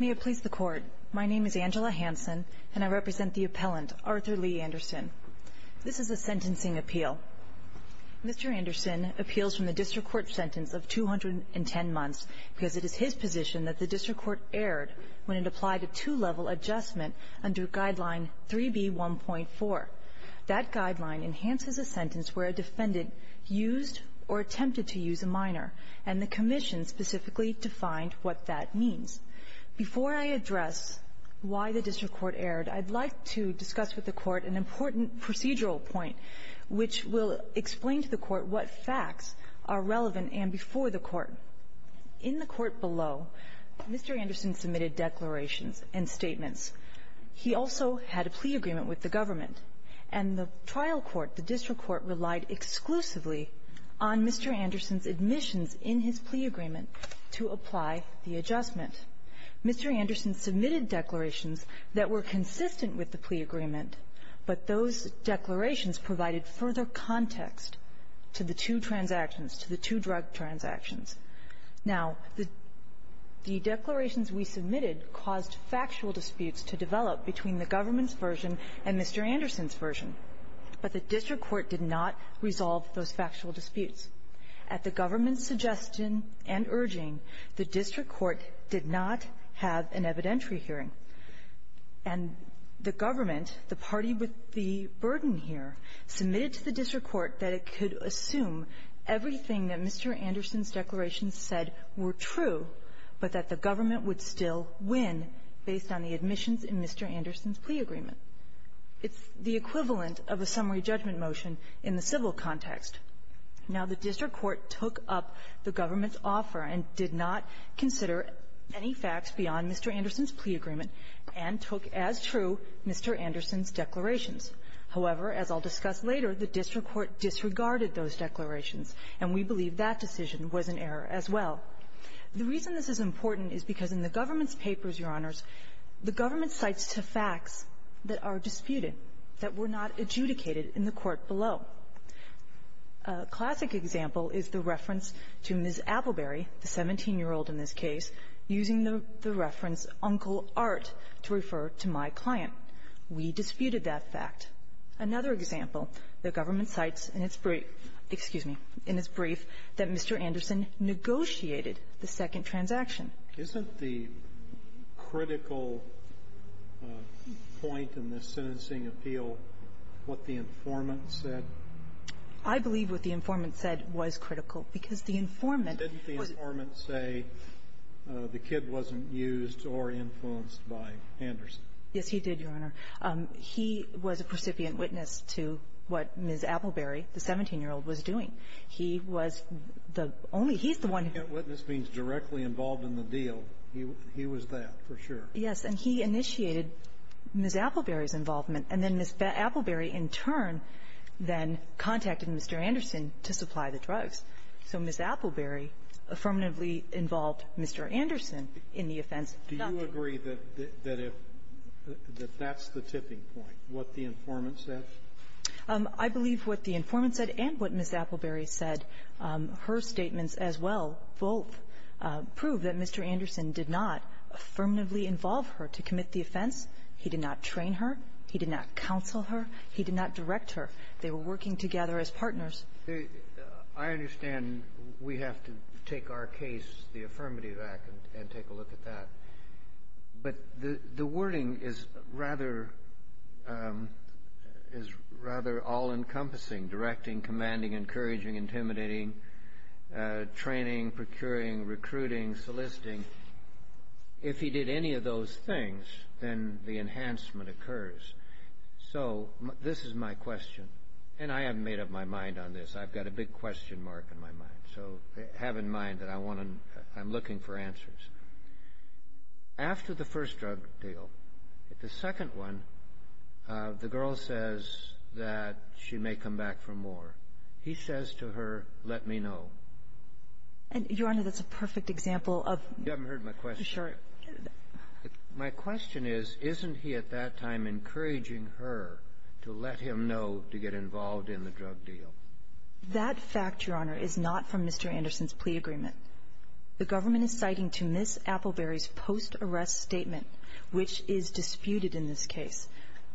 May it please the Court, my name is Angela Hanson and I represent the appellant Arthur Lee Anderson. This is a sentencing appeal. Mr. Anderson appeals from the District Court sentence of 210 months because it is his position that the District Court erred when it applied a two-level adjustment under Guideline 3B1.4. That Guideline enhances a sentence where a defendant used or attempted to use a minor, and the Commission specifically defined what that means. Before I address why the District Court erred, I'd like to discuss with the Court an important procedural point which will explain to the Court what facts are relevant and before the Court. In the Court below, Mr. Anderson submitted declarations and statements. He also had a plea agreement with the government. And the trial court, the District Court, relied exclusively on Mr. Anderson's admissions in his plea agreement to apply the adjustment. Mr. Anderson submitted declarations that were consistent with the plea agreement, but those declarations provided further context to the two transactions, to the two drug transactions. Now, the declarations we submitted caused factual disputes to develop between the government's version and Mr. Anderson's version, but the District Court did not resolve those factual disputes. At the government's suggestion and urging, the District Court did not have an evidentiary hearing. And the government, the party with the burden here, submitted to the District Court that it could assume everything that Mr. Anderson's declarations said were true, but that the government would still win based on the admissions in Mr. Anderson's plea agreement. It's the equivalent of a summary judgment motion in the civil context. Now, the District Court took up the government's offer and did not consider any facts beyond Mr. Anderson's plea agreement and took as true Mr. Anderson's declarations. However, as I'll discuss later, the District Court disregarded those declarations, and we believe that decision was an error as well. The reason this is important is because in the government's papers, Your Honors, the government cites two facts that are disputed, that were not adjudicated in the court below. A classic example is the reference to Ms. Appleberry, the 17-year-old in this case, using the reference, Uncle Art, to refer to my client. We disputed that fact. Another example, the government cites in its brief – excuse me – in its brief that Mr. Anderson negotiated the second transaction. Isn't the critical point in this sentencing appeal what the informant said? I believe what the informant said was critical, because the informant was – Didn't the informant say the kid wasn't used or influenced by Anderson? Yes, he did, Your Honor. He was a precipient witness to what Ms. Appleberry, the 17-year-old, was doing. He was the only – he's the one who – Precipient witness means directly involved in the deal. He was that, for sure. Yes. And he initiated Ms. Appleberry's involvement. And then Ms. Appleberry, in turn, then contacted Mr. Anderson to supply the drugs. So Ms. Appleberry affirmatively involved Mr. Anderson in the offense. Do you agree that that's the tipping point, what the informant said? I believe what the informant said and what Ms. Appleberry said, her statements as well, both, prove that Mr. Anderson did not affirmatively involve her to commit the offense. He did not train her. He did not counsel her. He did not direct her. They were working together as partners. I understand we have to take our case, the Affirmative Act, and take a look at that. But the wording is rather all-encompassing – directing, commanding, encouraging, intimidating, training, procuring, recruiting, soliciting. If he did any of those things, then the enhancement occurs. So this is my question. And I haven't made up my mind on this. I've got a big question mark in my mind. So have in mind that I want to – after the first drug deal, the second one, the girl says that she may come back for more. He says to her, let me know. And, Your Honor, that's a perfect example of – You haven't heard my question. Sure. My question is, isn't he at that time encouraging her to let him know to get involved in the drug deal? That fact, Your Honor, is not from Mr. Anderson's plea agreement. The government is citing to Ms. Appleberry's post-arrest statement, which is disputed in this case.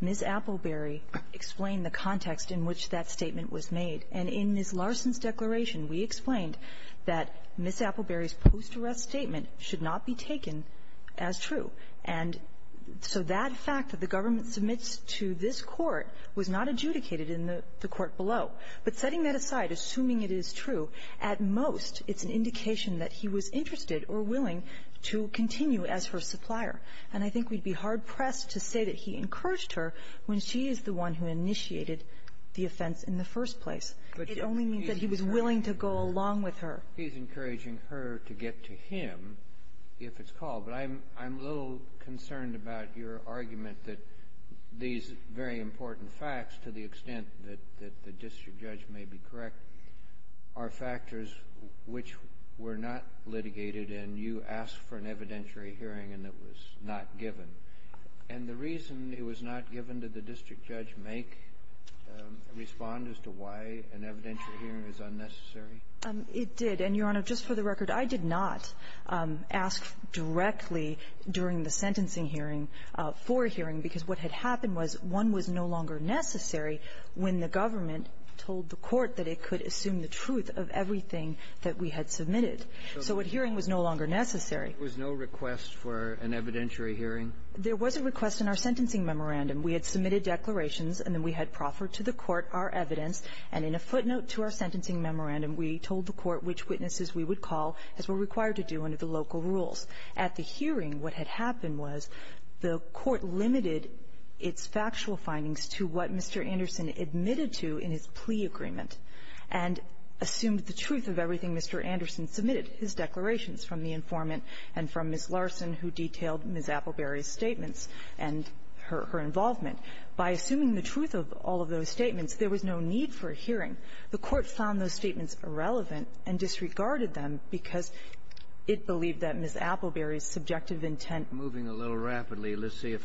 Ms. Appleberry explained the context in which that statement was made. And in Ms. Larson's declaration, we explained that Ms. Appleberry's post-arrest statement should not be taken as true. And so that fact that the government submits to this Court was not adjudicated in the court below. But setting that aside, assuming it is true, at most it's an indication that he was interested or willing to continue as her supplier. And I think we'd be hard-pressed to say that he encouraged her when she is the one who initiated the offense in the first place. It only means that he was willing to go along with her. He's encouraging her to get to him if it's called. But I'm – I'm a little concerned about your argument that these very important facts, to the extent that the district judge may be correct, are factors which were not litigated, and you asked for an evidentiary hearing, and it was not given. And the reason it was not given, did the district judge make – respond as to why an evidentiary hearing is unnecessary? It did. And, Your Honor, just for the record, I did not ask directly during the sentencing hearing for a hearing, because what had happened was one was no longer necessary when the government told the court that it could assume the truth of everything that we had submitted. So a hearing was no longer necessary. There was no request for an evidentiary hearing? There was a request in our sentencing memorandum. We had submitted declarations, and then we had proffered to the court our evidence. And in a footnote to our sentencing memorandum, we told the court which witnesses we would call, as we're required to do under the local rules. At the hearing, what had happened was the court limited its factual findings to what Mr. Anderson admitted to in his plea agreement, and assumed the truth of everything Mr. Anderson submitted, his declarations from the informant and from Ms. Larson, who detailed Ms. Appleberry's statements and her involvement. By assuming the truth of all of those statements, there was no need for a hearing. The court found those statements irrelevant and disregarded them because it believed that Ms. Appleberry's subjective intent was not necessary.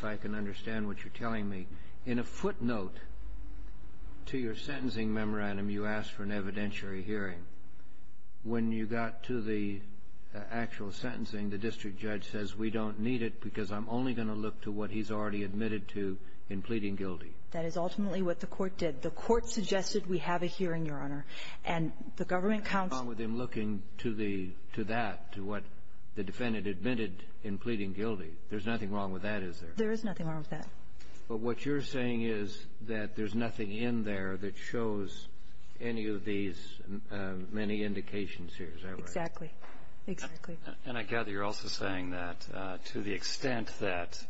To your sentencing memorandum, you asked for an evidentiary hearing. When you got to the actual sentencing, the district judge says, we don't need it because I'm only going to look to what he's already admitted to in pleading guilty. That is ultimately what the court did. The court suggested we have a hearing, And the government counsel — What's wrong with him looking to the — to that, to what the defendant admitted in pleading guilty? There's nothing wrong with that, is there? There is nothing wrong with that. But what you're saying is that there's nothing in there that shows any of these many indications here, is that right? Exactly. Exactly. And I gather you're also saying that to the extent that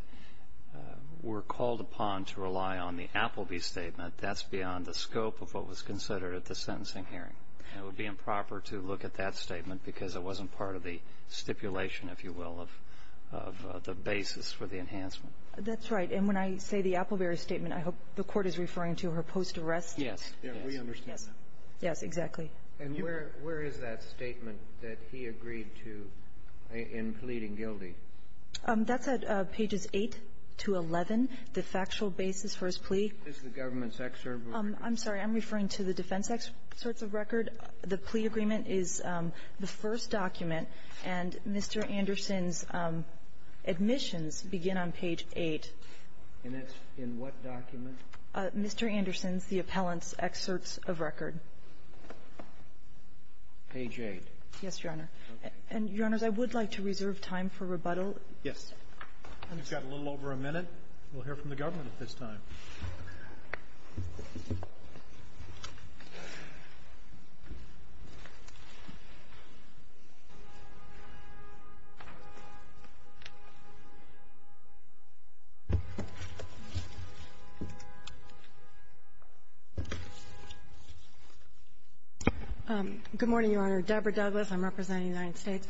we're called upon to rely on the Appleby statement, that's beyond the scope of what was considered at the sentencing hearing. It would be improper to look at that statement because it wasn't part of the stipulation, if you will, of the basis for the enhancement. That's right. And when I say the Appleby statement, I hope the Court is referring to her post-arrest — Yes. Yes. We understand that. Yes. Yes, exactly. And where is that statement that he agreed to in pleading guilty? That's at pages 8 to 11, the factual basis for his plea. Is the government's excerpt of the record? I'm sorry. I'm referring to the defense excerpt of the record. The plea agreement is the first document. And Mr. Anderson's admissions begin on page 8. And that's in what document? Mr. Anderson's, the appellant's excerpts of record. Page 8. Yes, Your Honor. And, Your Honors, I would like to reserve time for rebuttal. Yes. We've got a little over a minute. We'll hear from the government at this time. Good morning, Your Honor. Deborah Douglas. I'm representing the United States.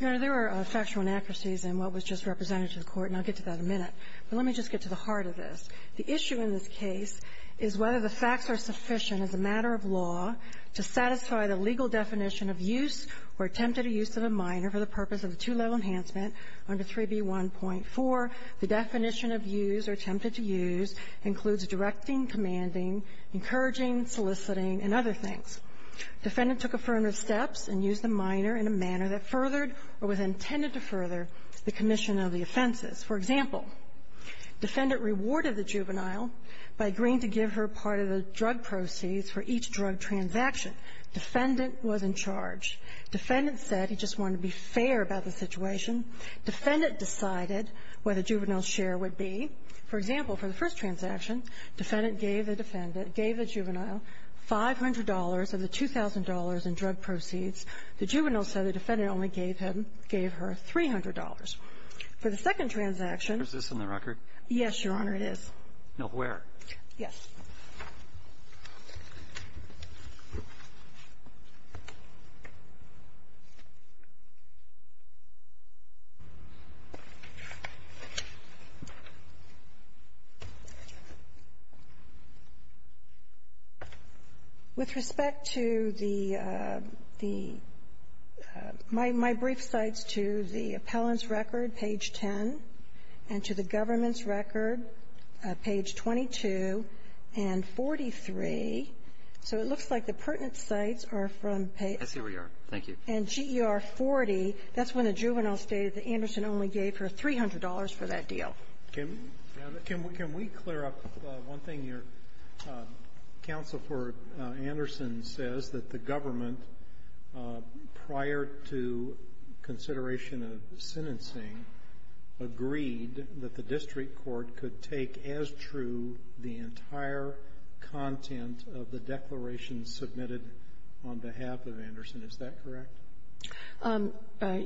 Your Honor, there were factual inaccuracies in what was just represented to the Court, and I'll get to that in a minute. But let me just get to the heart of this. The issue in this case is whether the facts are sufficient as a matter of law to satisfy the legal definition of use or attempted use of a minor for the purpose of a two-level enhancement under 3B1.4. The definition of use or attempted to use includes directing, commanding, encouraging, soliciting, and other things. Defendant took affirmative steps and used the minor in a manner that furthered or was intended to further the commission of the offenses. For example, defendant rewarded the juvenile by agreeing to give her part of the drug proceeds for each drug transaction. Defendant was in charge. Defendant said he just wanted to be fair about the situation. Defendant decided what the juvenile's share would be. For example, for the first transaction, defendant gave the juvenile $500 of the $2,000 in drug proceeds. The juvenile said the defendant only gave her $300. For the second transaction ---- Alito, is this on the record? Yes, Your Honor, it is. Now, where? Yes. With respect to the ---- my brief cites to the appellant's record, page 10, and to page 43, so it looks like the pertinent cites are from page ---- I see where you are. Thank you. And GER 40, that's when the juvenile stated that Anderson only gave her $300 for that deal. Can we clear up one thing here? Counsel for Anderson says that the government, prior to consideration of sentencing, agreed that the district court could take as true the entire content of the declaration submitted on behalf of Anderson. Is that correct?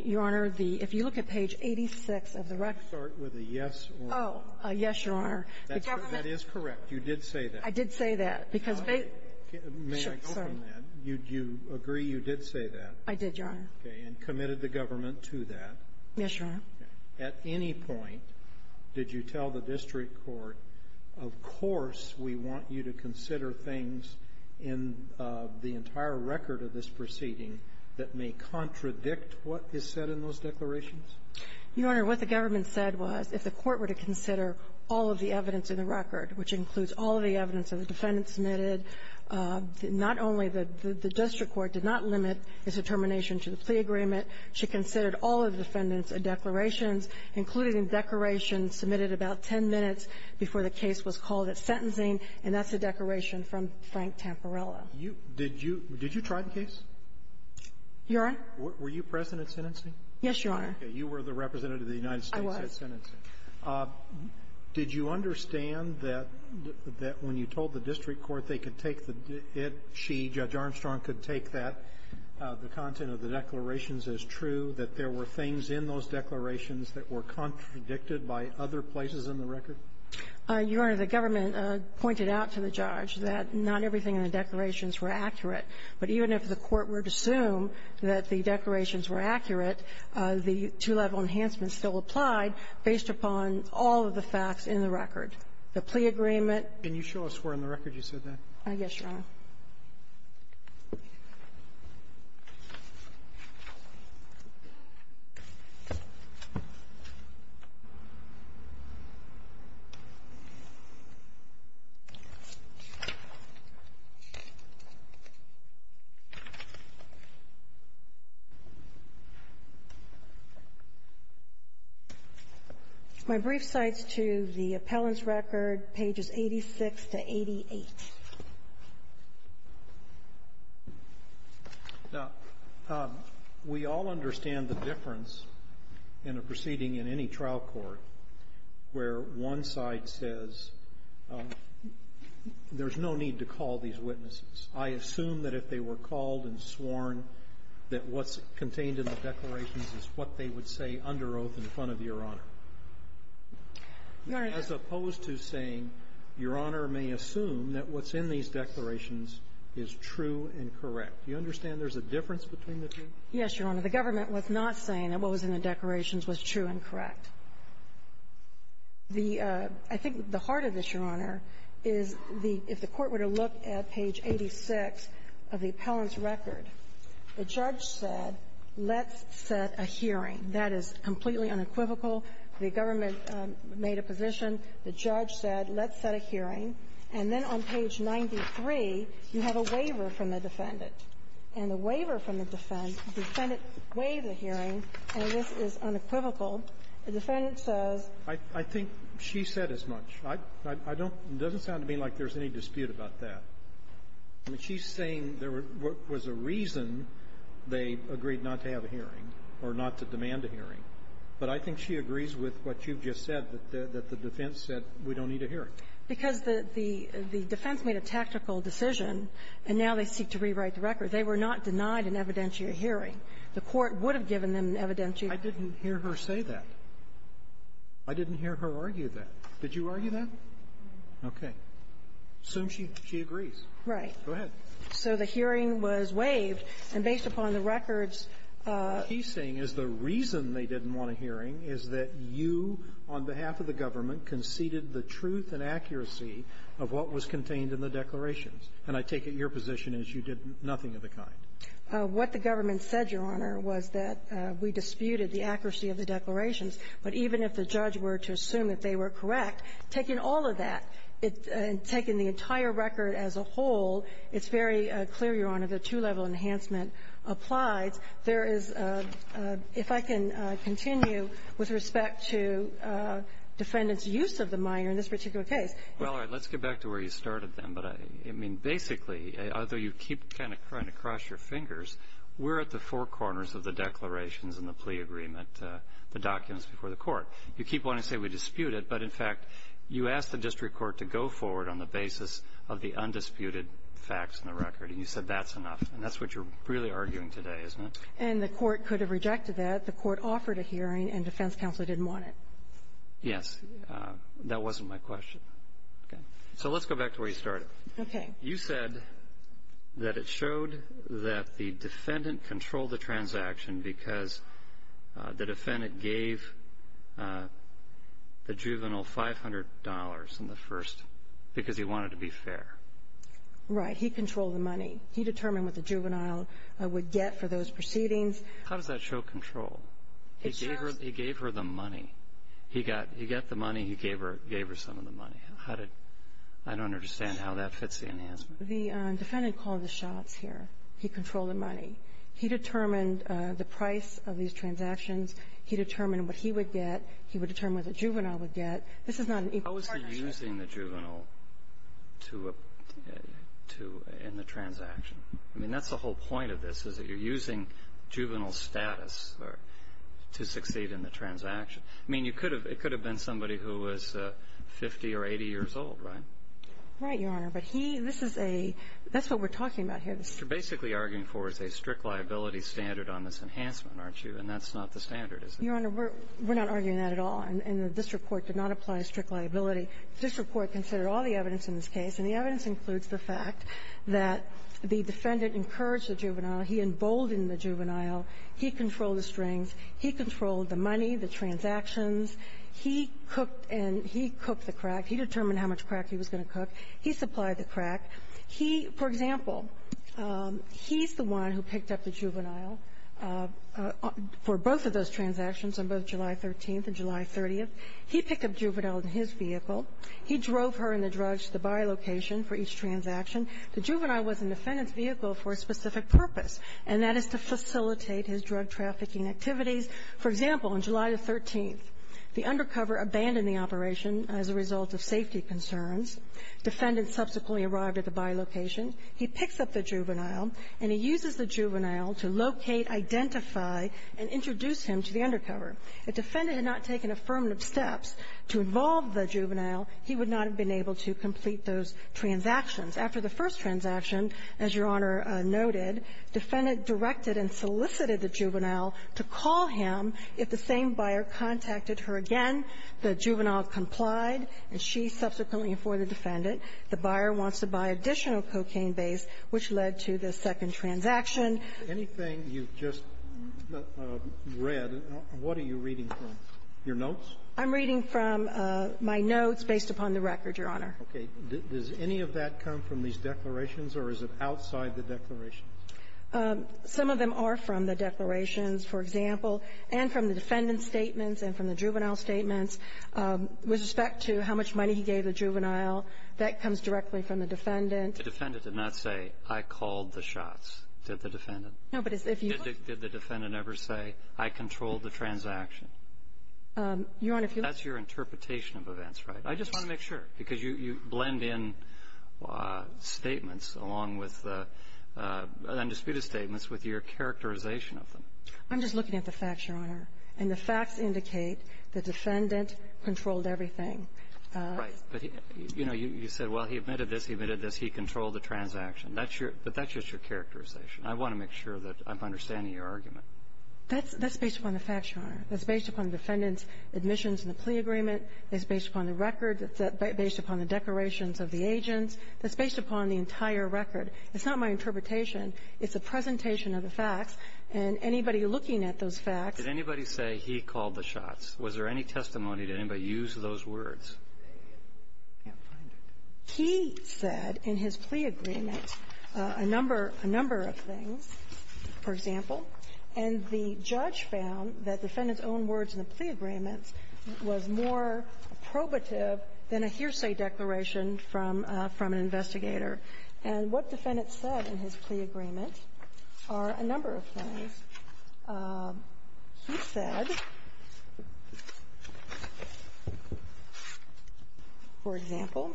Your Honor, the ---- if you look at page 86 of the record ---- Can you start with a yes or a no? Oh, yes, Your Honor. The government ---- That is correct. You did say that. I did say that, because they ---- May I go from that? You agree you did say that? I did, Your Honor. Okay. And committed the government to that? Yes, Your Honor. At any point, did you tell the district court, of course, we want you to consider things in the entire record of this proceeding that may contradict what is said in those declarations? Your Honor, what the government said was, if the court were to consider all of the evidence in the record, which includes all of the evidence that the defendant submitted, not only the district court did not limit its determination to the plea agreement, she considered all of the defendants' declarations, including declarations submitted about 10 minutes before the case was called at sentencing, and that's a declaration from Frank Tamparello. You ---- did you ---- did you try the case? Your Honor? Were you present at sentencing? Yes, Your Honor. Okay. You were the representative of the United States at sentencing. I was. Did you understand that when you told the district court they could take the ---- it, she, Judge Armstrong, could take that, the content of the declarations is true, that there were things in those declarations that were contradicted by other places in the record? Your Honor, the government pointed out to the judge that not everything in the declarations were accurate, but even if the court were to assume that the declarations were accurate, the two-level enhancement still applied based upon all of the facts in the record. The plea agreement ---- I guess, Your Honor. My brief cites to the appellant's record, pages 86 to 88. Now, we all understand the difference in a proceeding in any trial court where one side says, there's no need to call these witnesses. I assume that if they were called and sworn that what's contained in the declarations is what they would say under oath in front of Your Honor. Your Honor ---- As opposed to saying, Your Honor may assume that what's in these declarations is true and correct. Do you understand there's a difference between the two? Yes, Your Honor. The government was not saying that what was in the declarations was true and correct. The ---- I think the heart of this, Your Honor, is the ---- if the court were to look at page 86 of the appellant's record, the judge said, let's set a hearing. That is completely unequivocal. The government made a position. The judge said, let's set a hearing. And then on page 93, you have a waiver from the defendant. And the waiver from the defendant, the defendant waived the hearing, and this is unequivocal. The defendant says ---- I think she said as much. I don't ---- it doesn't sound to me like there's any dispute about that. I mean, she's saying there was a reason they agreed not to have a hearing or not to demand a hearing. But I think she agrees with what you've just said, that the defense said we don't need a hearing. Because the defense made a tactical decision, and now they seek to rewrite the record. They were not denied an evidentiary hearing. The court would have given them an evidentiary. I didn't hear her say that. I didn't hear her argue that. Did you argue that? Okay. Assume she agrees. Right. Go ahead. So the hearing was waived, and based upon the records ---- What she's saying is the reason they didn't want a hearing is that you, on behalf of the government, conceded the truth and accuracy of what was contained in the declarations. And I take it your position is you did nothing of the kind. What the government said, Your Honor, was that we disputed the accuracy of the declarations. But even if the judge were to assume that they were correct, taking all of that, taking the entire record as a whole, it's very clear, Your Honor, that two-level enhancement applies. There is a ---- if I can continue with respect to defendants' use of the minor in this particular case. Well, all right. Let's get back to where you started, then. But I mean, basically, although you keep kind of trying to cross your fingers, we're at the four corners of the declarations and the plea agreement, the documents before the Court. You keep wanting to say we disputed, but in fact, you asked the district court to go forward on the basis of the undisputed facts in the record. And you said that's enough. And that's what you're really arguing today, isn't it? And the court could have rejected that. The court offered a hearing, and defense counsel didn't want it. Yes. That wasn't my question. So let's go back to where you started. Okay. You said that it showed that the defendant controlled the transaction because the juvenile $500 in the first, because he wanted to be fair. Right. He controlled the money. He determined what the juvenile would get for those proceedings. How does that show control? He gave her the money. He got the money. He gave her some of the money. How did ---- I don't understand how that fits the enhancement. The defendant called the shots here. He controlled the money. He determined the price of these transactions. He determined what he would get. He would determine what the juvenile would get. This is not an equal part of the strategy. How is he using the juvenile to ---- in the transaction? I mean, that's the whole point of this, is that you're using juvenile status to succeed in the transaction. I mean, it could have been somebody who was 50 or 80 years old, right? Right, Your Honor. But he ---- this is a ---- that's what we're talking about here. What you're basically arguing for is a strict liability standard on this enhancement, aren't you? And that's not the standard, is it? Your Honor, we're not arguing that at all. And the district court did not apply a strict liability. The district court considered all the evidence in this case, and the evidence includes the fact that the defendant encouraged the juvenile. He emboldened the juvenile. He controlled the strings. He controlled the money, the transactions. He cooked and he cooked the crack. He determined how much crack he was going to cook. He supplied the crack. He ---- for example, he's the one who picked up the juvenile for both of those transactions on both July 13th and July 30th. He picked up the juvenile in his vehicle. He drove her and the drugs to the buy location for each transaction. The juvenile was in the defendant's vehicle for a specific purpose, and that is to facilitate his drug trafficking activities. For example, on July the 13th, the undercover abandoned the operation as a result of safety concerns. The defendant subsequently arrived at the buy location. He picks up the juvenile, and he uses the juvenile to locate, identify, and introduce him to the undercover. If the defendant had not taken affirmative steps to involve the juvenile, he would not have been able to complete those transactions. After the first transaction, as Your Honor noted, the defendant directed and solicited the juvenile to call him if the same buyer contacted her again. The juvenile complied, and she subsequently informed the defendant. The buyer wants to buy additional cocaine base, which led to the second transaction. Anything you've just read, what are you reading from, your notes? I'm reading from my notes based upon the record, Your Honor. Okay. Does any of that come from these declarations, or is it outside the declarations? Some of them are from the declarations, for example, and from the defendant's statements, and from the juvenile's statements, with respect to how much money he gave the juvenile. That comes directly from the defendant. The defendant did not say, I called the shots, did the defendant? No, but if you look Did the defendant ever say, I controlled the transaction? Your Honor, if you look That's your interpretation of events, right? I just want to make sure, because you blend in statements along with the undisputed statements with your characterization of them. I'm just looking at the facts, Your Honor. And the facts indicate the defendant controlled everything. Right. But, you know, you said, well, he admitted this, he admitted this, he controlled the transaction. That's your But that's just your characterization. I want to make sure that I'm understanding your argument. That's based upon the facts, Your Honor. That's based upon the defendant's admissions and the plea agreement. That's based upon the record. That's based upon the declarations of the agents. That's based upon the entire record. It's not my interpretation. It's a presentation of the facts, and anybody looking at those facts Did anybody say he called the shots? Was there any testimony? Did anybody use those words? I can't find it. He said in his plea agreement a number of things, for example. And the judge found that the defendant's own words in the plea agreement was more probative than a hearsay declaration from an investigator. And what the defendant said in his plea agreement are a number of things. He said, for example,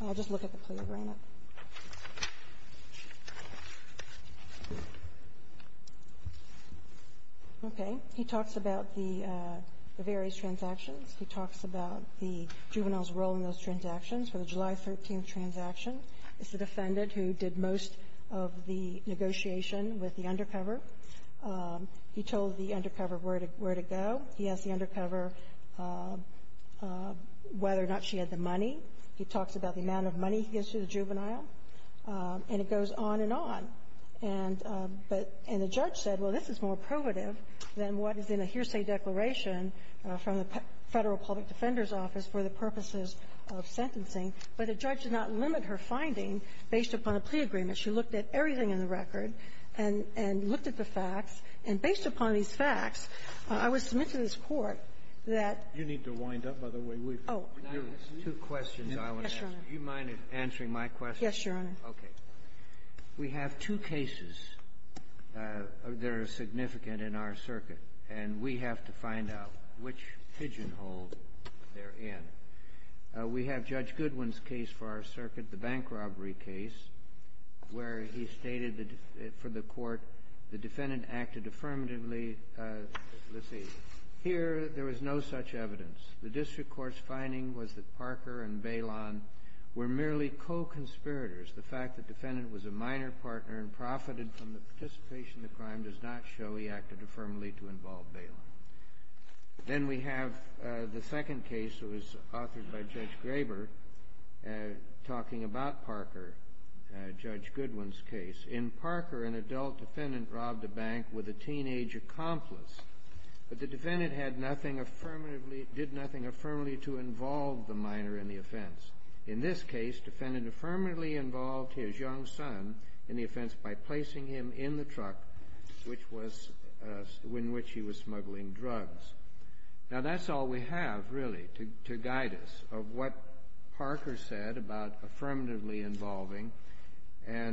and I'll just look at the plea agreement. Okay. He talks about the various transactions. He talks about the juvenile's role in those transactions for the July 13th transaction. It's the defendant who did most of the negotiation with the undercover. He told the undercover where to go. He talks about the amount of money he gives to the juvenile, and it goes on and on. And the judge said, well, this is more probative than what is in a hearsay declaration from the Federal Public Defender's Office for the purposes of sentencing. But the judge did not limit her finding based upon a plea agreement. She looked at everything in the record and looked at the facts. And based upon these facts, I was submitted to this Court that you need to wind up by the way we've been. Two questions I want to ask. Do you mind answering my question? Yes, Your Honor. Okay. We have two cases that are significant in our circuit, and we have to find out which pigeonhole they're in. We have Judge Goodwin's case for our circuit, the bank robbery case, where he stated for the Court the defendant acted affirmatively. Let's see. Here, there was no such evidence. The district court's finding was that Parker and Bailon were merely co-conspirators. The fact the defendant was a minor partner and profited from the participation in the crime does not show he acted affirmatively to involve Bailon. Then we have the second case. It was authored by Judge Graber, talking about Parker, Judge Goodwin's case. In Parker, an adult defendant robbed a bank with a teenage accomplice, but the defendant did nothing affirmatively to involve the minor in the offense. In this case, the defendant affirmatively involved his young son in the offense by placing him in the truck in which he was smuggling drugs. Now, that's all we have, really, to guide us of what Parker said about affirmatively involving or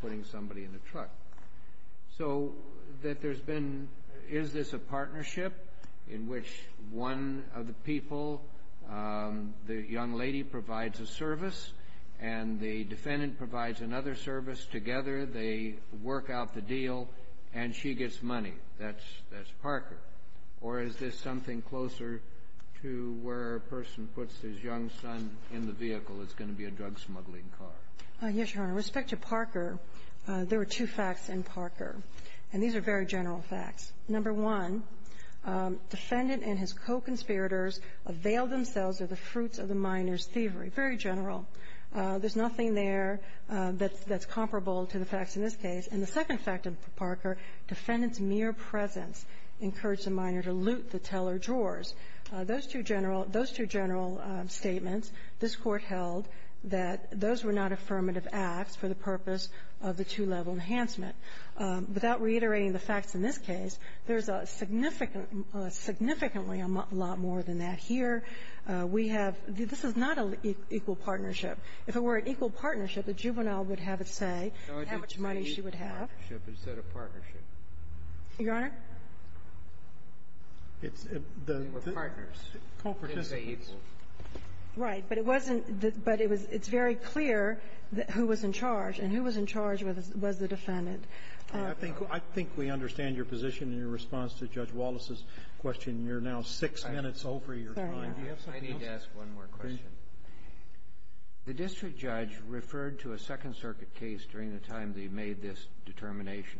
putting somebody in a truck. So that there's been — is this a partnership in which one of the people, the young lady provides a service, and the defendant provides another service together, they work out the deal, and she gets money? That's Parker. Or is this something closer to where a person puts his young son in the vehicle that's going to be a drug-smuggling car? Yes, Your Honor. With respect to Parker, there were two facts in Parker, and these are very general facts. Number one, defendant and his co-conspirators availed themselves of the fruits of the minor's thievery. Very general. There's nothing there that's comparable to the facts in this case. And the second fact of Parker, defendant's mere presence encouraged the minor to loot the teller drawers. Those two general — those two general statements, this Court held that those were not affirmative acts for the purpose of the two-level enhancement. Without reiterating the facts in this case, there's a significant — significantly a lot more than that. Here, we have — this is not an equal partnership. If it were an equal partnership, the juvenile would have a say in how much money she would have. Is that a partnership? Your Honor? It's — They were partners. Co-participants. Didn't they equal? Right. But it wasn't — but it was — it's very clear who was in charge and who was in charge was the defendant. I think — I think we understand your position in your response to Judge Wallace's question. You're now six minutes over your time. Do you have something else? I need to ask one more question. The district judge referred to a Second Circuit case during the time they made this determination.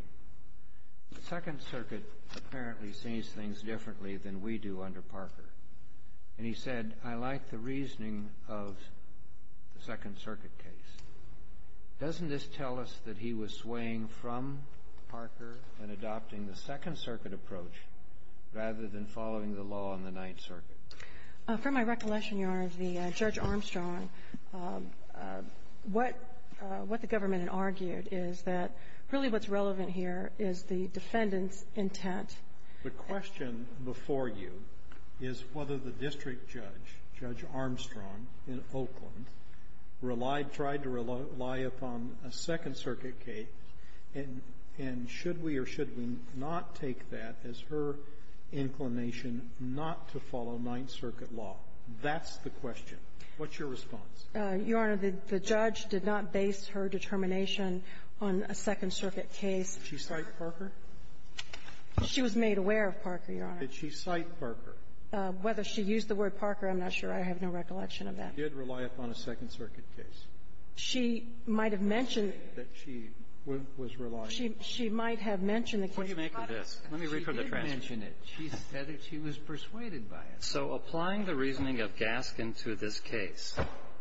The Second Circuit apparently sees things differently than we do under Parker. And he said, I like the reasoning of the Second Circuit case. Doesn't this tell us that he was swaying from Parker and adopting the Second Circuit approach rather than following the law in the Ninth Circuit? For my recollection, Your Honor, the — Judge Armstrong, what — what the government had argued is that really what's relevant here is the defendant's intent. The question before you is whether the district judge, Judge Armstrong, in Oakland, relied — tried to rely upon a Second Circuit case, and — and should we or should we not take that as her inclination not to follow Ninth Circuit law? That's the question. What's your response? Your Honor, the judge did not base her determination on a Second Circuit case. Did she cite Parker? She was made aware of Parker, Your Honor. Did she cite Parker? Whether she used the word Parker, I'm not sure. I have no recollection of that. She did rely upon a Second Circuit case. She might have mentioned — That she was relying — She might have mentioned the case. What do you make of this? Let me read from the transcript. She did mention it. She said that she was persuaded by it. So applying the reasoning of Gaskin to this case,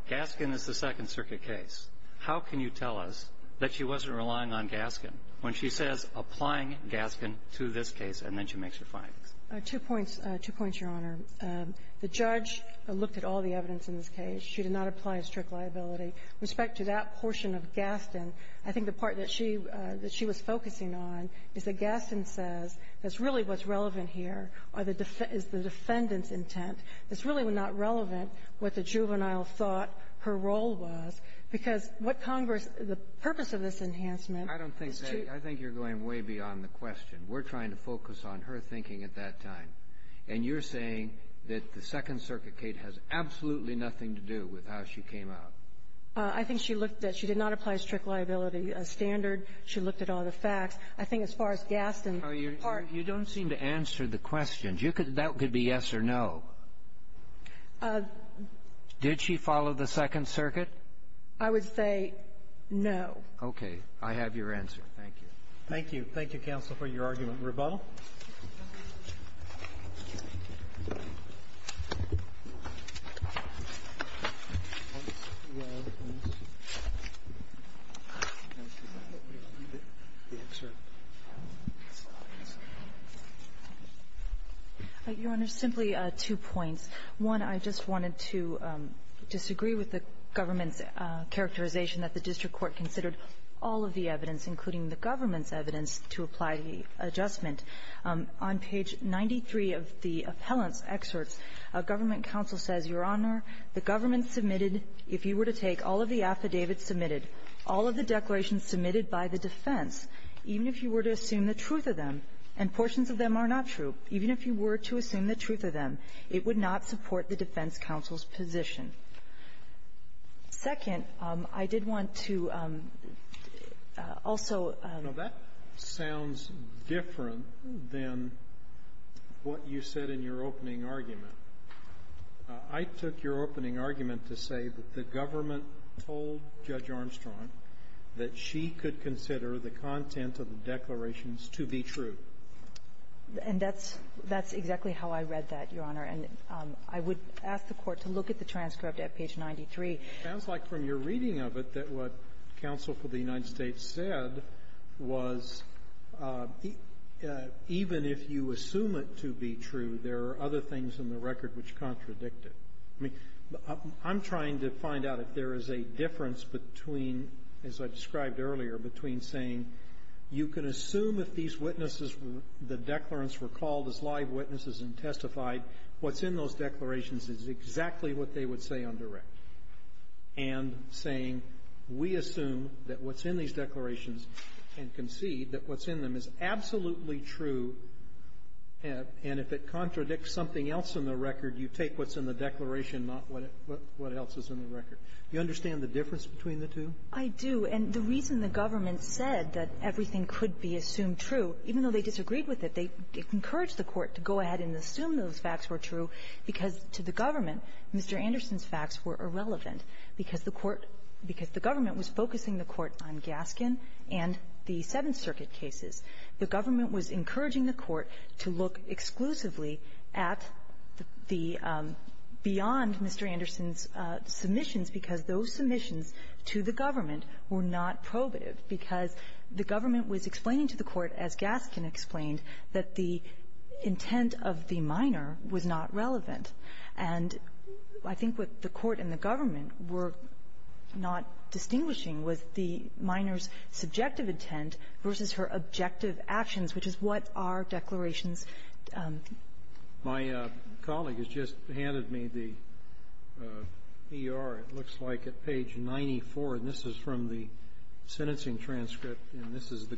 Gaskin is the Second Circuit case. How can you tell us that she wasn't relying on Gaskin when she says, applying Gaskin to this case, and then she makes her findings? Two points. Two points, Your Honor. The judge looked at all the evidence in this case. She did not apply a strict liability. With respect to that portion of Gaskin, I think the part that she — that she was focusing on is that Gaskin says that's really what's relevant here are the — is the defendant's intent. It's really not relevant what the juvenile thought her role was, because what Congress — the purpose of this enhancement is to — I don't think that — I think you're going way beyond the question. We're trying to focus on her thinking at that time. And you're saying that the Second Circuit case has absolutely nothing to do with how she came out. I think she looked at — she did not apply a strict liability standard. She looked at all the facts. I think as far as Gaskin — You don't seem to answer the questions. You could — that could be yes or no. Did she follow the Second Circuit? I would say no. Okay. I have your answer. Thank you. Thank you. Thank you, counsel, for your argument. Ms. Rabaul. Your Honor, simply two points. One, I just wanted to disagree with the government's characterization that the district court considered all of the evidence, including the government's evidence, to apply the adjustment. On page 93 of the appellant's excerpts, a government counsel says, Your Honor, the government submitted, if you were to take all of the affidavits submitted, all of the declarations submitted by the defense, even if you were to assume the truth of them, and portions of them are not true, even if you were to assume the truth of them, it would not support the defense counsel's position. Second, I did want to also — Now, that sounds different than what you said in your opening argument. I took your opening argument to say that the government told Judge Armstrong that she could consider the content of the declarations to be true. And that's — that's exactly how I read that, Your Honor. And I would ask the Court to look at the transcript at page 93. It sounds like from your reading of it that what counsel for the United States said was even if you assume it to be true, there are other things in the record which contradict it. I mean, I'm trying to find out if there is a difference between, as I described earlier, between saying you can assume if these witnesses were — the declarants were called as live witnesses and testified, what's in those declarations, and concede that what's in them is absolutely true, and if it contradicts something else in the record, you take what's in the declaration, not what else is in the record. Do you understand the difference between the two? I do. And the reason the government said that everything could be assumed true, even though they disagreed with it, they encouraged the Court to go ahead and assume those facts were true, because to the government, Mr. Anderson's facts were irrelevant, because the Court — because the government was focusing the Court on Gaskin and the Seventh Circuit cases. The government was encouraging the Court to look exclusively at the — beyond Mr. Anderson's submissions, because those submissions to the government were not probative, because the government was explaining to the Court, as Gaskin was not relevant. And I think what the Court and the government were not distinguishing was the minor's subjective intent versus her objective actions, which is what our declarations — My colleague has just handed me the ER. It looks like at page 94, and this is from the sentencing transcript, and this is the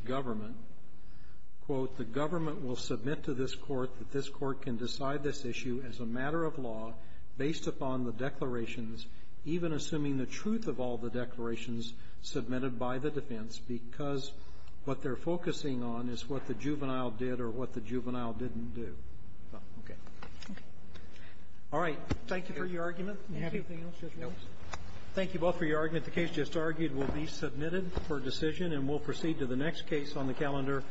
law based upon the declarations, even assuming the truth of all the declarations submitted by the defense, because what they're focusing on is what the juvenile did or what the juvenile didn't do. Okay. Okay. All right. Thank you for your argument. Do you have anything else? No. Thank you both for your argument. The case just argued will be submitted for decision, and we'll proceed to the next case on the calendar.